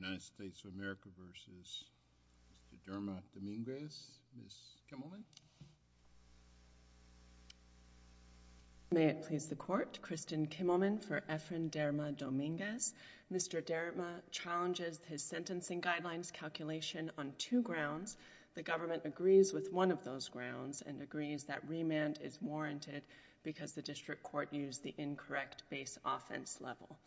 May it please the court, Kristen Kimmelman for Efren Derma-Dominguez. Mr. Derma challenges his sentencing guidelines calculation on two grounds. The government agrees with one of those grounds and agrees that remand is warranted because the district court used the incorrect base offense level.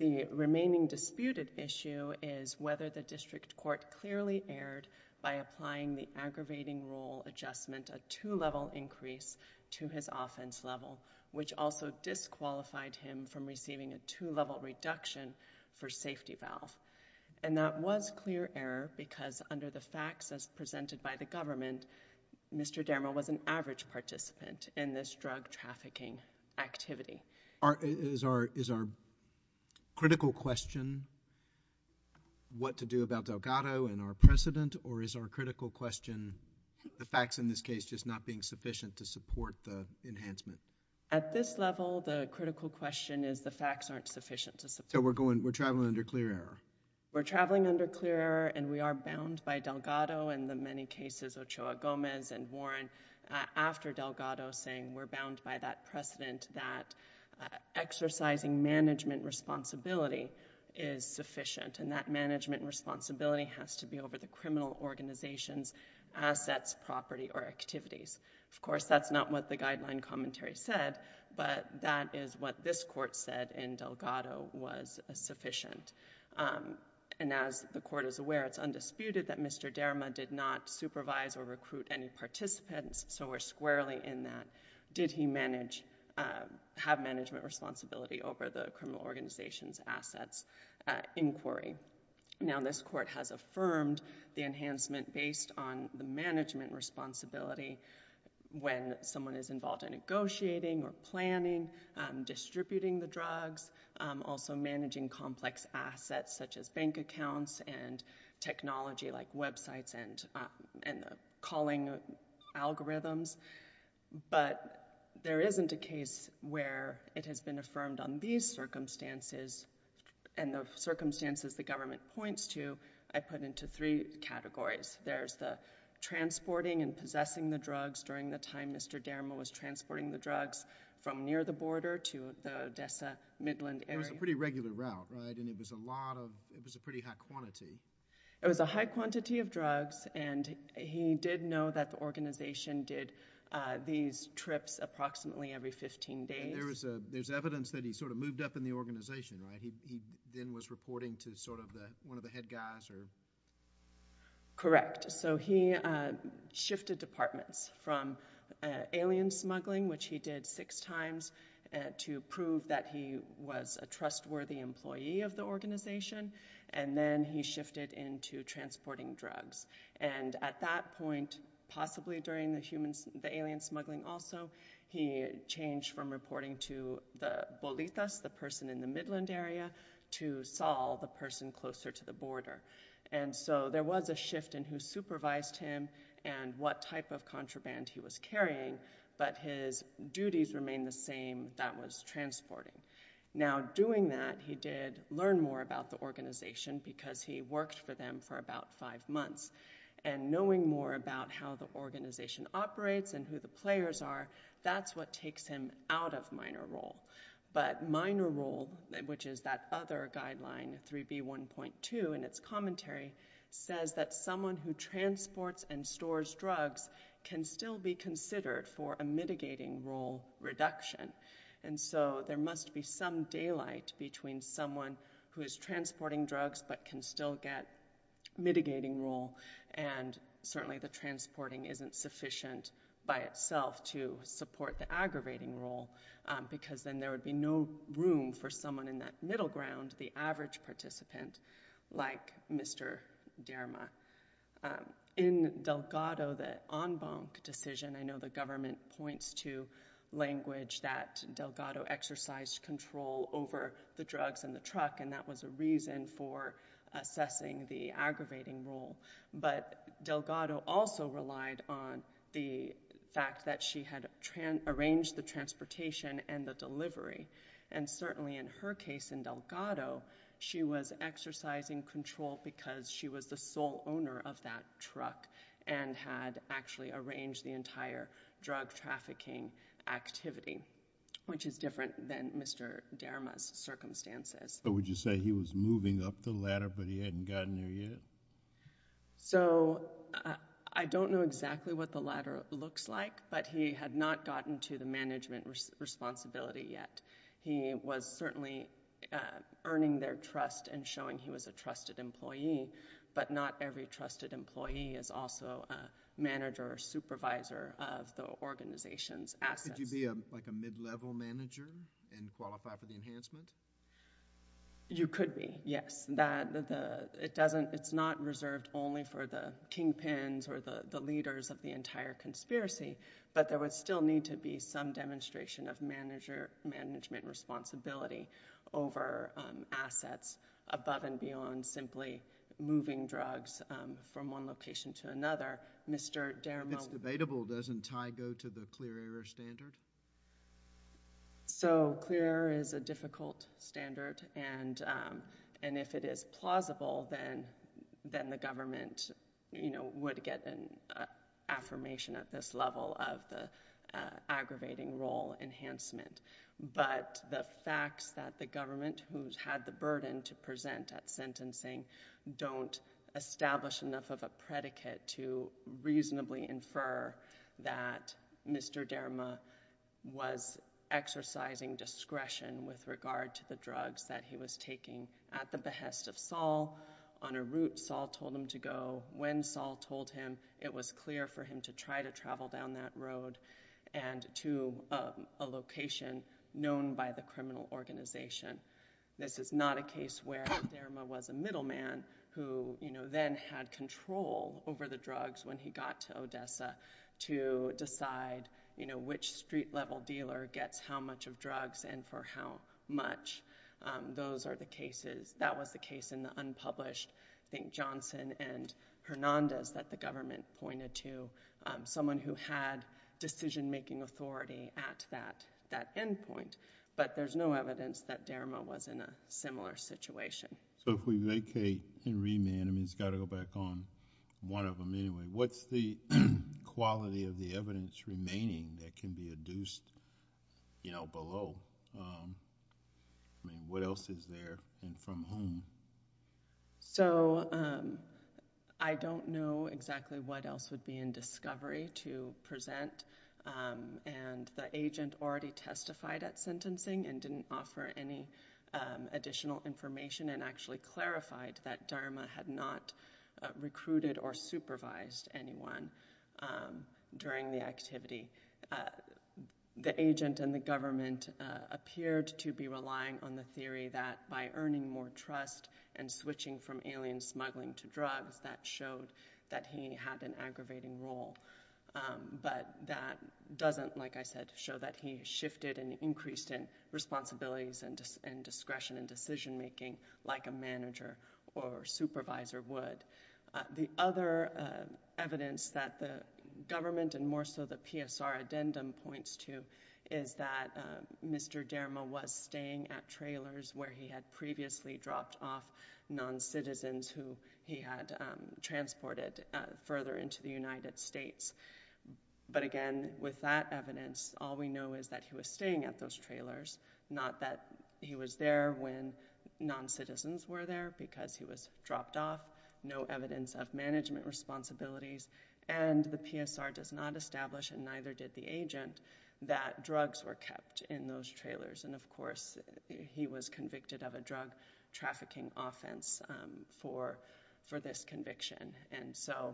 The remaining disputed issue is whether the district court clearly erred by applying the aggravating rule adjustment a two-level increase to his offense level which also disqualified him from receiving a two-level reduction for safety valve and that was clear error because under the facts as presented by the government Mr. Derma was an average participant in this drug trafficking activity. Is our critical question what to do about Delgado and our precedent or is our critical question the facts in this case just not being sufficient to support the enhancement? At this level the critical question is the facts aren't sufficient to support... So we're going we're traveling under clear error? We're traveling under clear error and we are bound by Delgado and the many cases Ochoa Gomez and Warren after Delgado saying we're bound by that precedent that exercising management responsibility is sufficient and that management responsibility has to be over the criminal organizations assets property or activities. Of course that's not what the guideline commentary said but that is what this court said in Delgado was sufficient and as the court is aware it's undisputed that Mr. Derma did not supervise or recruit any management responsibility over the criminal organization's assets inquiry. Now this court has affirmed the enhancement based on the management responsibility when someone is involved in negotiating or planning distributing the drugs also managing complex assets such as bank accounts and technology like websites and calling algorithms but there isn't a case where it has been affirmed on these circumstances and the circumstances the government points to I put into three categories. There's the transporting and possessing the drugs during the time Mr. Derma was transporting the drugs from near the border to the Odessa Midland area. It was a pretty regular route, right, and it was a lot of, it was a pretty high quantity. It was a high quantity of drugs and he did know that the organization did these trips approximately every 15 days. There's evidence that he sort of moved up in the organization, right, he then was reporting to sort of the one of the head guys. Correct, so he shifted departments from alien smuggling which he did six times to prove that he was a trustworthy employee of the organization and then he shifted into transporting drugs and at that point possibly during the humans the alien smuggling also he changed from reporting to the Bolitas, the person in the Midland area, to Saul, the person closer to the border and so there was a shift in who supervised him and what type of contraband he was carrying but his duties remained the same that was transporting. Now doing that he did learn more about the organization because he worked for them for about five months and knowing more about how the organization operates and who the players are that's what takes him out of minor role but minor role, which is that other guideline 3b 1.2 in its commentary, says that someone who transports and stores drugs can still be there must be some daylight between someone who is transporting drugs but can still get mitigating role and certainly the transporting isn't sufficient by itself to support the aggravating role because then there would be no room for someone in that middle ground, the average participant like Mr. Derma. In Delgado, the en banc decision, I know the government points to language that Delgado exercised control over the drugs in the truck and that was a reason for assessing the aggravating role but Delgado also relied on the fact that she had arranged the transportation and the delivery and certainly in her case in Delgado she was exercising control because she was the sole owner of that truck and had actually arranged the entire drug trafficking activity, which is different than Mr. Derma's circumstances. But would you say he was moving up the ladder but he hadn't gotten there yet? So I don't know exactly what the ladder looks like but he had not gotten to the management responsibility yet. He was certainly earning their trust and showing he was a trusted employee but not every trusted employee is also a member of the organization's assets. Could you be like a mid-level manager and qualify for the enhancement? You could be, yes. It's not reserved only for the kingpins or the leaders of the entire conspiracy but there would still need to be some demonstration of management responsibility over assets above and beyond simply moving drugs from one location to another. Mr. Derma... It's debatable. Doesn't Ty go to the clear error standard? So clear error is a difficult standard and if it is plausible then the government would get an affirmation at this level of the aggravating role enhancement. But the facts that the government who's had the burden to present at sentencing don't establish enough of a predicate to reasonably infer that Mr. Derma was exercising discretion with regard to the drugs that he was taking at the behest of Saul. On a route Saul told him to go. When Saul told him it was clear for him to try to travel down that road and to a location known by the criminal organization. This is not a case where Derma was a successor to Dessa to decide which street level dealer gets how much of drugs and for how much. Those are the cases... that was the case in the unpublished I think Johnson and Hernandez that the government pointed to, someone who had decision making authority at that end point. But there's no evidence that Derma was in a similar situation. If we vacate and remand, I mean it's got to go back on one of them anyway, what's the quality of the evidence remaining that can be adduced below? I mean what else is there and from whom? So I don't know exactly what else would be in discovery to present and the agent already testified at sentencing and didn't offer any additional information and actually clarified that Derma had not recruited or supervised anyone during the activity. The agent and the government appeared to be relying on the theory that by earning more trust and switching from alien smuggling to drugs that showed that he had an aggravating role. But that doesn't, like I said, show that he shifted and increased in responsibilities and discretion and decision making like a manager or supervisor would. The other evidence that the government and more so the PSR addendum points to is that Mr. Derma was staying at trailers where he had previously dropped off non-citizens who he had transported further into the United States. But again, with that evidence, all we know is that he was staying at those trailers when non-citizens were there because he was dropped off, no evidence of management responsibilities and the PSR does not establish and neither did the agent that drugs were kept in those trailers. And of course, he was convicted of a drug trafficking offense for this conviction and so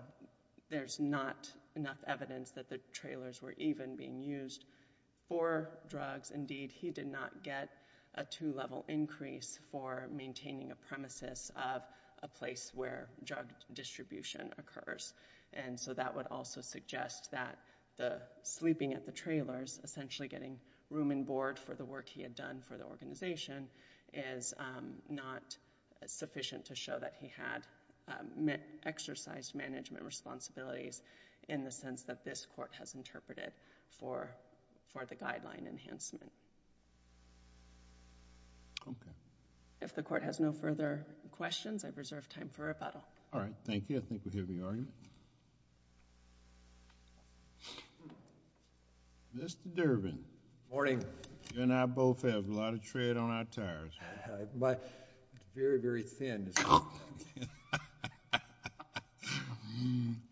there's not enough evidence that the trailers were even being used for drugs. Indeed, he did not get a two-level increase for maintaining a premises of a place where drug distribution occurs and so that would also suggest that the sleeping at the trailers, essentially getting room and board for the work he had done for the organization is not sufficient to show that he had exercised management responsibilities in the sense that this court has interpreted for the guideline enhancement. If the court has no further questions, I've reserved time for rebuttal. All right. Thank you. I think we're hearing the argument. Mr. Durbin. Good morning. You and I both have a lot of tread on our tires. It's very, very thin.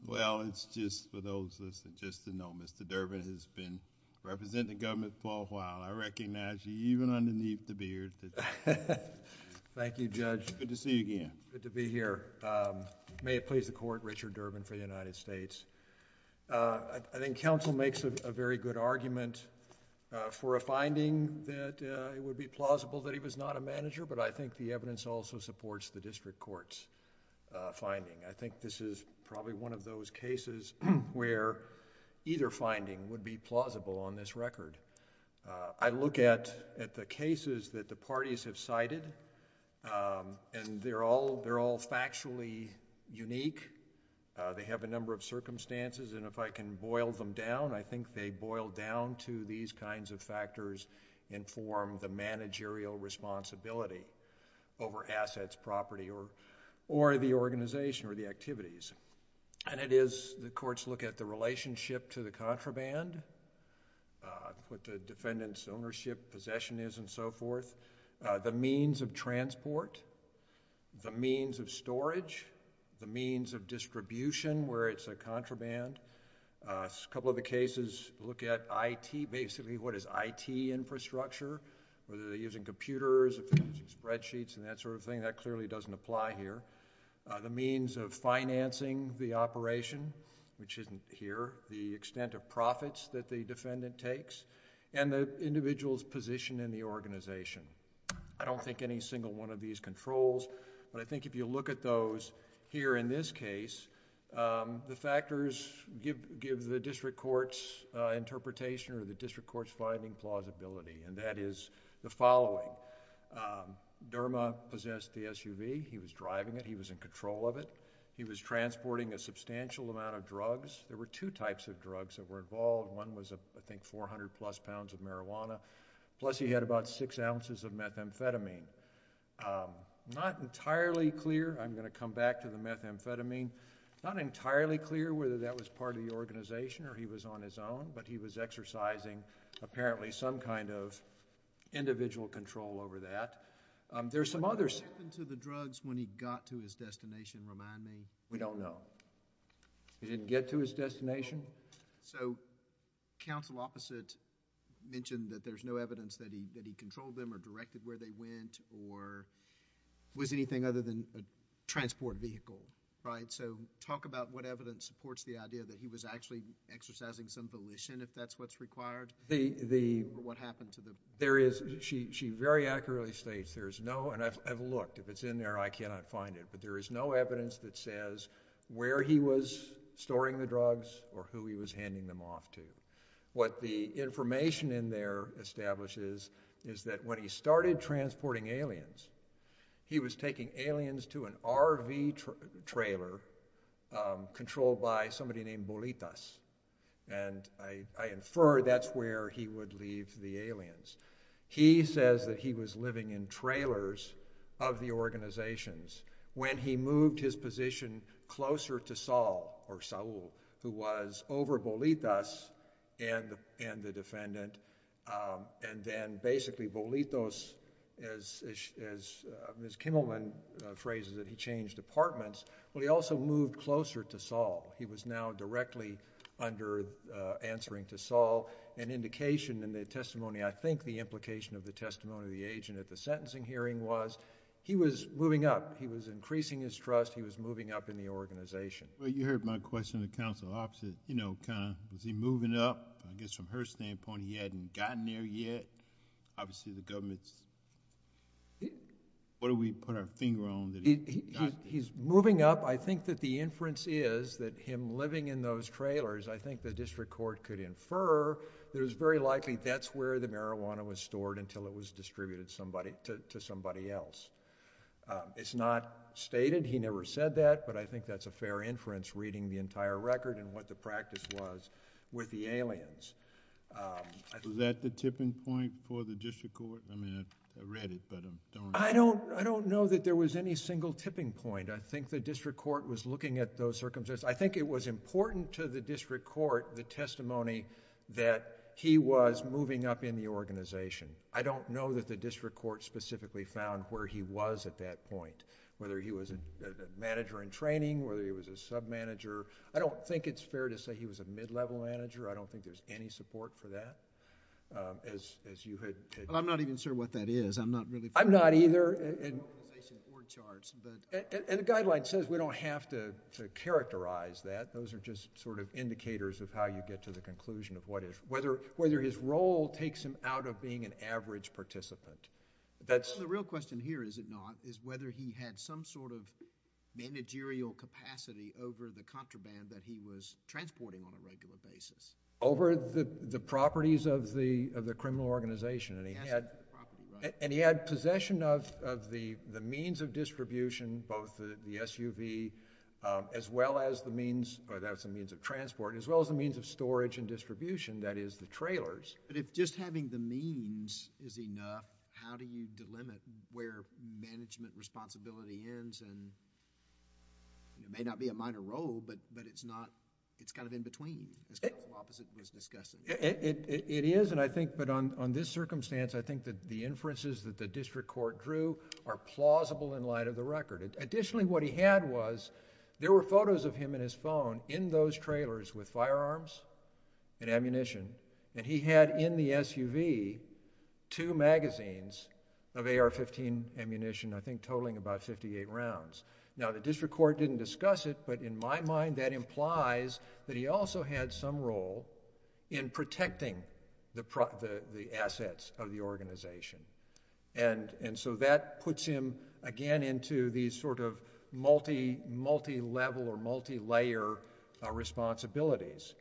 Well, it's just for those that just didn't know, Mr. Durbin has been in the government for a while. I recognize you even underneath the beard. Thank you, Judge. Good to see you again. Good to be here. May it please the Court, Richard Durbin for the United States. I think counsel makes a very good argument for a finding that it would be plausible that he was not a manager, but I think the evidence also supports the district court's finding. I think this is probably one of those cases where either finding would be plausible on this record. I look at the cases that the parties have cited and they're all factually unique. They have a number of circumstances and if I can boil them down, I think they boil down to these kinds of factors and form the managerial responsibility over assets, property, or the organization or the activities. The courts look at the relationship to the contraband, what the defendant's ownership, possession is and so forth. The means of transport, the means of storage, the means of distribution where it's a contraband. A couple of the cases look at IT, basically what is IT infrastructure, whether they're using computers, if they're using spreadsheets and that sort of thing. That clearly doesn't apply here. The means of financing the operation, which isn't here. The extent of profits that the defendant takes and the individual's position in the organization. I don't think any single one of these controls, but I think if you look at those here in this case, the factors give the district court's interpretation or the district court's finding plausibility and that is the following. Derma possessed the SUV. He was driving it. He was in control of it. He was transporting a substantial amount of drugs. There were two types of drugs that were involved. One was I think 400 plus pounds of marijuana, plus he had about six ounces of methamphetamine. Not entirely clear, I'm going to come back to the methamphetamine, not entirely clear whether that was part of the organization or he was on his own, but he was exercising apparently some kind of individual control over that. There's some others... What happened to the drugs when he got to his destination? Remind me. We don't know. He didn't get to his destination? So counsel opposite mentioned that there's no evidence that he controlled them or directed where they went or was anything other than a transport vehicle, right? So talk about what evidence supports the idea that he was actually exercising some volition if that's what's required? The... What happened to the... There is... She very accurately states there's no... and I've looked. If it's in there, I cannot find it, but there is no evidence that says where he was storing the drugs or who he was handing them off to. What the information in there establishes is that when he started transporting aliens, he was taking aliens to an RV trailer controlled by somebody named Bolitas. I infer that's where he would leave the aliens. He says that he was living in trailers of the organizations. When he moved his position closer to Saul, or Saul, who was over Bolitas and the defendant and then basically Bolitas, as Ms. Kimmelman phrases it, he changed departments. He also moved closer to Saul. He was now directly under answering to Saul. An indication in the testimony, I think the implication of the testimony of the agent at the sentencing hearing was he was moving up. He was increasing his trust. He was moving up in the organization. Well, you heard my question of the counsel opposite. Was he moving up? I guess from her standpoint, he hadn't gotten there yet. Obviously, the government's... What do we put our finger on that he got there? He's moving up. I think that the inference is that him living in those trailers, I think the district court could infer that it's very likely that's where the marijuana was stored until it was distributed to somebody else. It's not stated. He never said that, but I think that's a fair inference reading the entire record and what the practice was with the aliens. Was that the tipping point for the district court? I mean, I read it, but I don't... I don't know that there was any single tipping point. I think the district court was looking at those circumstances. I think it was important to the district court, the testimony that he was moving up in the organization. I don't know that the district court specifically found where he was at that point, whether he was a manager in training, whether he was a sub-manager. I don't think it's fair to say he was a mid-level manager. I don't think there's any support for that as you had... Well, I'm not even sure what that is. I'm not really... I'm not either..... in the organization board charts, but... And the guideline says we don't have to characterize that. Those are just sort of indicators of how you get to the conclusion of what is... whether his role takes him out of being an average participant. The real question here, is it not, is whether he had some sort of managerial capacity over the contraband that he was transporting on a regular basis. Over the properties of the criminal organization, and he had... Passed over the properties, right? And he had possession of the means of distribution, both the SUV, as well as the means of transport, as well as the means of storage and distribution, that is the trailers. But if just having the means is enough, how do you delimit where management responsibility ends, and it may not be a minor role, but it's not... it's kind of in between as the opposite was discussed. It is, and I think, but on this circumstance, I think that the inferences that the district court drew are plausible in light of the record. Additionally, what he had was, there were photos of him in his phone in those trailers with firearms and ammunition, and he had in the SUV, two magazines of AR-15 ammunition, I think totaling about fifty-eight rounds. Now, the district court didn't discuss it, but in my mind, that implies that he also had some role in protecting the assets of the organization, and so that puts him again into these sort of multi-level or multi-layer responsibilities.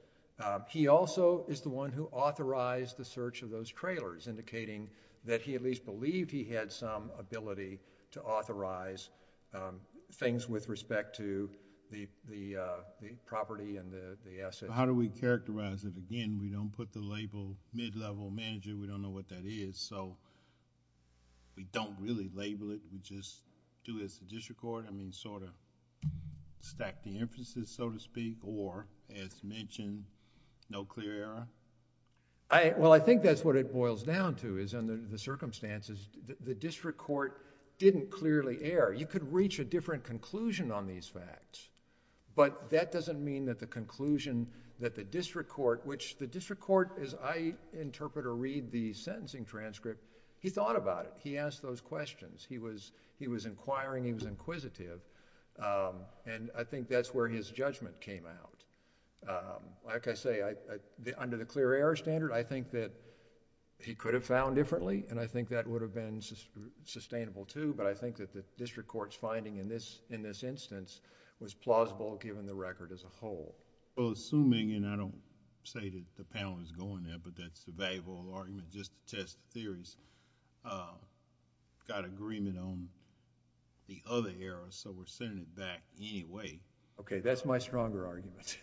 He also is the one who authorized the search of those trailers, indicating that he at least believed he had some ability to do things with respect to the property and the assets. How do we characterize it? Again, we don't put the label mid-level manager. We don't know what that is, so we don't really label it. We just do as the district court. I mean, sort of stack the inferences, so to speak, or as mentioned, no clear error? Well, I think that's what it boils down to, is under the circumstances, the district court didn't clearly err. You could reach a different conclusion on these facts, but that doesn't mean that the conclusion that the district court... which the district court, as I interpret or read the sentencing transcript, he thought about it. He asked those questions. He was inquiring. He was inquisitive, and I think that's where his judgment came out. Like I say, under the clear error standard, I think that he could have found differently, and I think that would have been sustainable too, but I think that the district court's finding in this instance was plausible given the record as a whole. Well, assuming, and I don't say that the panel is going there, but that's the valuable argument, just to test the theories, got agreement on the other error, so we're sending it back anyway. Okay. That's my stronger argument.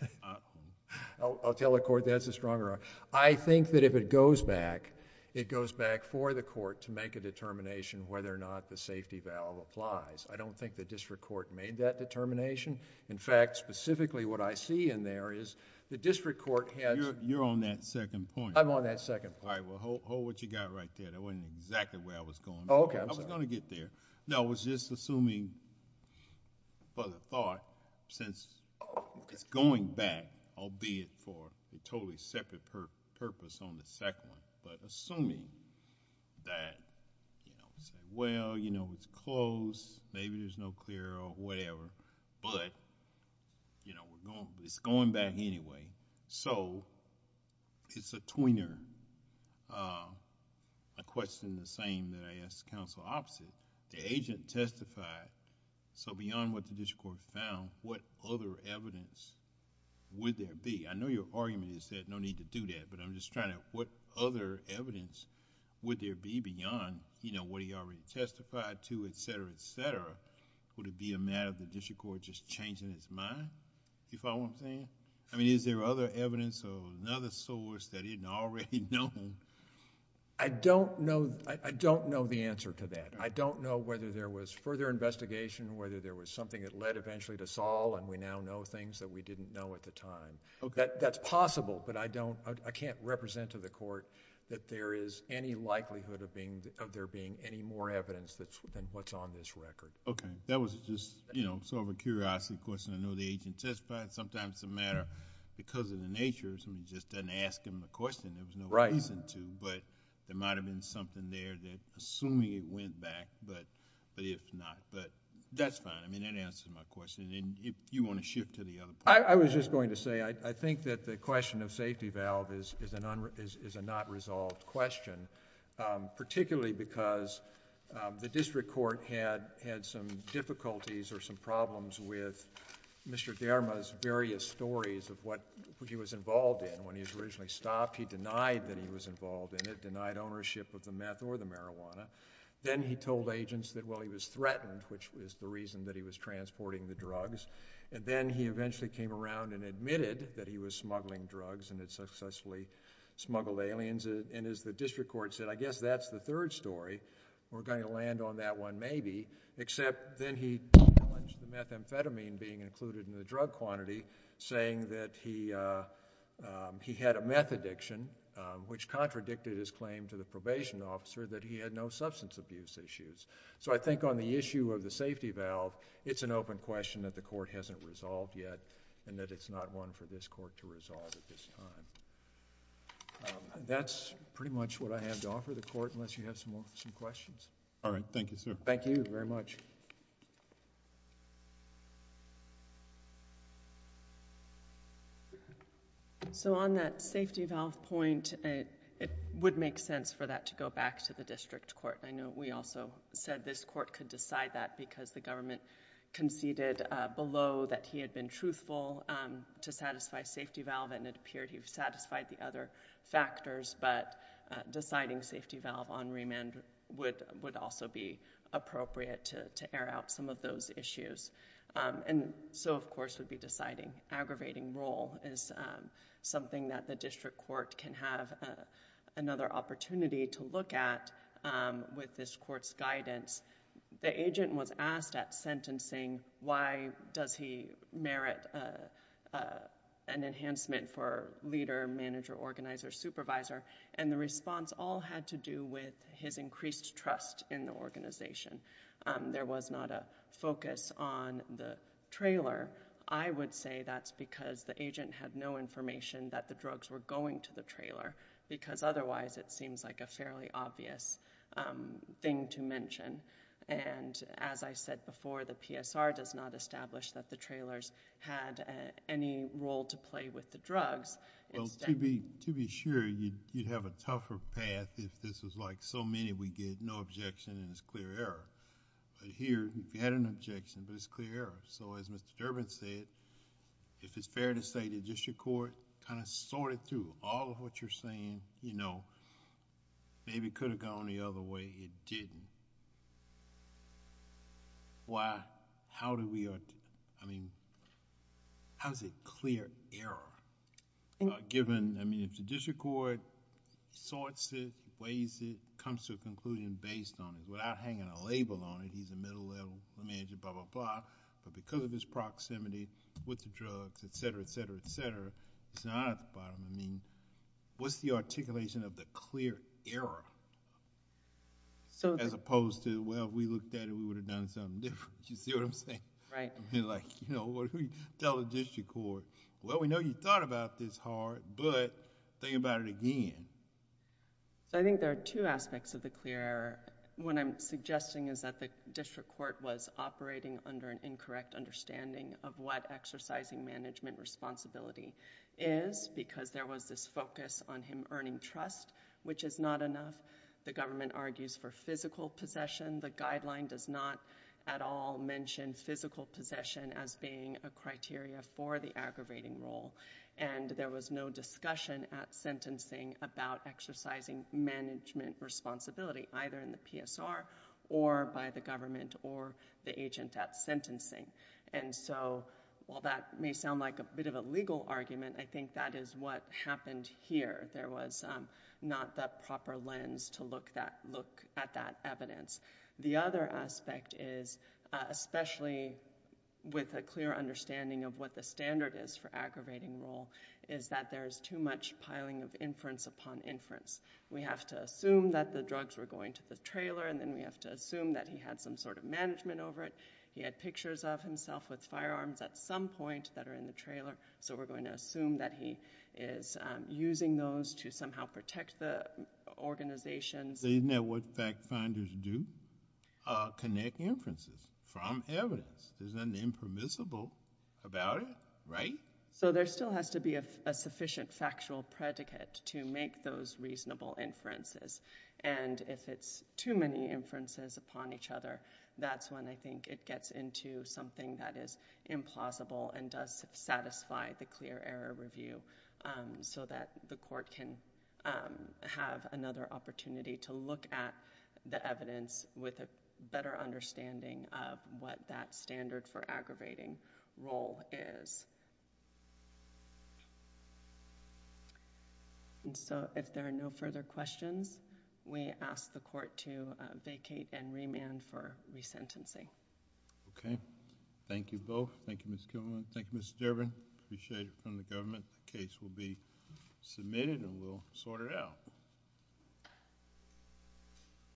I'll tell the court that's a stronger argument. I think that if it goes back, it goes back for the court to make a determination whether or not the safety valve applies. I don't think the district court made that determination. In fact, specifically what I see in there is the district court has... You're on that second point. I'm on that second point. All right. Well, hold what you got right there. That wasn't exactly where I was going. Oh, okay. I'm sorry. I was going to get there. No, I was just assuming for the thought, since it's going back, albeit for a totally separate purpose on the second one, but assuming that... well, you know, it's closed, maybe there's no clear or whatever, but it's going back anyway. It's a tweener. A question the same that I asked the counsel opposite, the agent testified, so beyond what the district court found, what other evidence would there be? I know your argument is that no need to do that, but I'm just trying to... what other evidence would there be beyond what he already testified to, et cetera, et cetera? Would it be a matter of the district court just changing its mind, do you follow what I'm saying? Is there other evidence or another source that he didn't already know? I don't know the answer to that. I don't know whether there was further investigation, whether there was something that led eventually to Saul, and we now know things that we didn't know at the time. That's possible, but I don't... I can't represent to the court that there is any likelihood of there being any more evidence than what's on this record. Okay. That was just, you know, sort of a curiosity question. I know the agent testified. Sometimes it's a matter because of the nature, so he just doesn't ask him a question. There was no reason to, but there might have been something there that assuming it went back, but if not, but that's fine. I mean, that answers my question. If you want to shift to the other point... I was just going to say, I think that the question of safety valve is a not resolved question, particularly because the district court had some difficulties or some problems with Mr. Derma's various stories of what he was involved in. When he was originally stopped, he denied that he was involved in it, denied ownership of the meth or the marijuana. Then he told agents that, well, he was threatened, which was the reason that he was transporting the drugs, and then he eventually came around and admitted that he was smuggling drugs and had successfully smuggled aliens. As the district court said, I guess that's the third story. We're going to land on that one maybe, except then he challenged the methamphetamine being included in the drug quantity, saying that he had a meth addiction, which contradicted his claim to the probation officer that he had no substance abuse issues. I think on the issue of the safety valve, it's an open question that the court hasn't resolved yet and that it's not one for this court to resolve at this time. That's pretty much what I have to offer the court, unless you have some Thank you very much. Thank you, sir. On that safety valve point, it would make sense for that to go back to the district court. I know we also said this court could decide that because the government conceded below that he had been truthful to satisfy safety valve and it appeared he satisfied the other factors, but deciding safety valve on remand would also be appropriate to air out some of those issues. So of course, would be deciding aggravating role is something that the the agency has to be involved in, as we said before, with this court's guidance. The agent was asked at sentencing why does he merit an enhancement for leader, manager, organizer, supervisor and the response all had to do with his increased trust in the organization. There was not a focus on the trailer. I would say that's because the agent had no information that the drugs were used. That's a fairly obvious thing to mention. As I said before, the PSR does not establish that the trailers had any role to play with the drugs. Instead...... Well, to be sure, you'd have a tougher path if this was like so many, we get no objection and it's clear error. Here, if you had an objection, but it's clear error. As Mr. Durbin said, if it's fair to say to the district court, kind of sort it through. All of what you're saying, maybe it could have gone the other way. It didn't. Why? How do we... I mean, how is it clear error, given... I mean, if the district court sorts it, weighs it, comes to a conclusion based on it, without hanging a label on it, he's a middle level manager, blah, blah, blah, but because of his proximity with the drugs, et cetera, et cetera, et cetera, it's not at the bottom. I mean, what's the articulation of the clear error, as opposed to well, we looked at it, we would have done something different, you see what I'm saying? I mean, like, you know, what do we tell the district court? Well, we know you thought about this hard, but think about it again. I think there are two aspects of the clear error. What I'm suggesting is that the district court was operating under an incorrect understanding of what exercising management responsibility is, because there was this focus on him earning trust, which is not enough. The government argues for physical possession. The guideline does not at all mention physical possession as being a criteria for the aggravating role, and there was no discussion at sentencing about exercising management responsibility, either in the PSR or by the government or the agent at sentencing. And so while that may sound like a bit of a legal argument, I think that is what happened here. There was not the proper lens to look at that evidence. The other aspect is, especially with a clear understanding of what the standard is for aggravating role, is that there is too much piling of inference upon inference. We have to assume that the drugs were going to the trailer, and then we have to assume that he had some sort of management over it. He had pictures of himself with firearms at some point that are in the trailer, so we're going to assume that he is using those to somehow protect the organizations. These network fact finders do connect inferences from evidence. There's nothing impermissible about it, right? So there still has to be a sufficient factual predicate to make those reasonable inferences. And if it's too many inferences upon each other, that's when I think it gets into something that is implausible and does satisfy the clear error review, so that the court can have another opportunity to look at the evidence with a better understanding of what that standard for aggravating role is. If there are no further questions, we ask the court to vacate and remand for resentencing. Thank you both. Thank you, Ms. Kuhlman. Thank you, Mr. Durbin. Appreciate it from the government. The case will be submitted and we'll sort it out.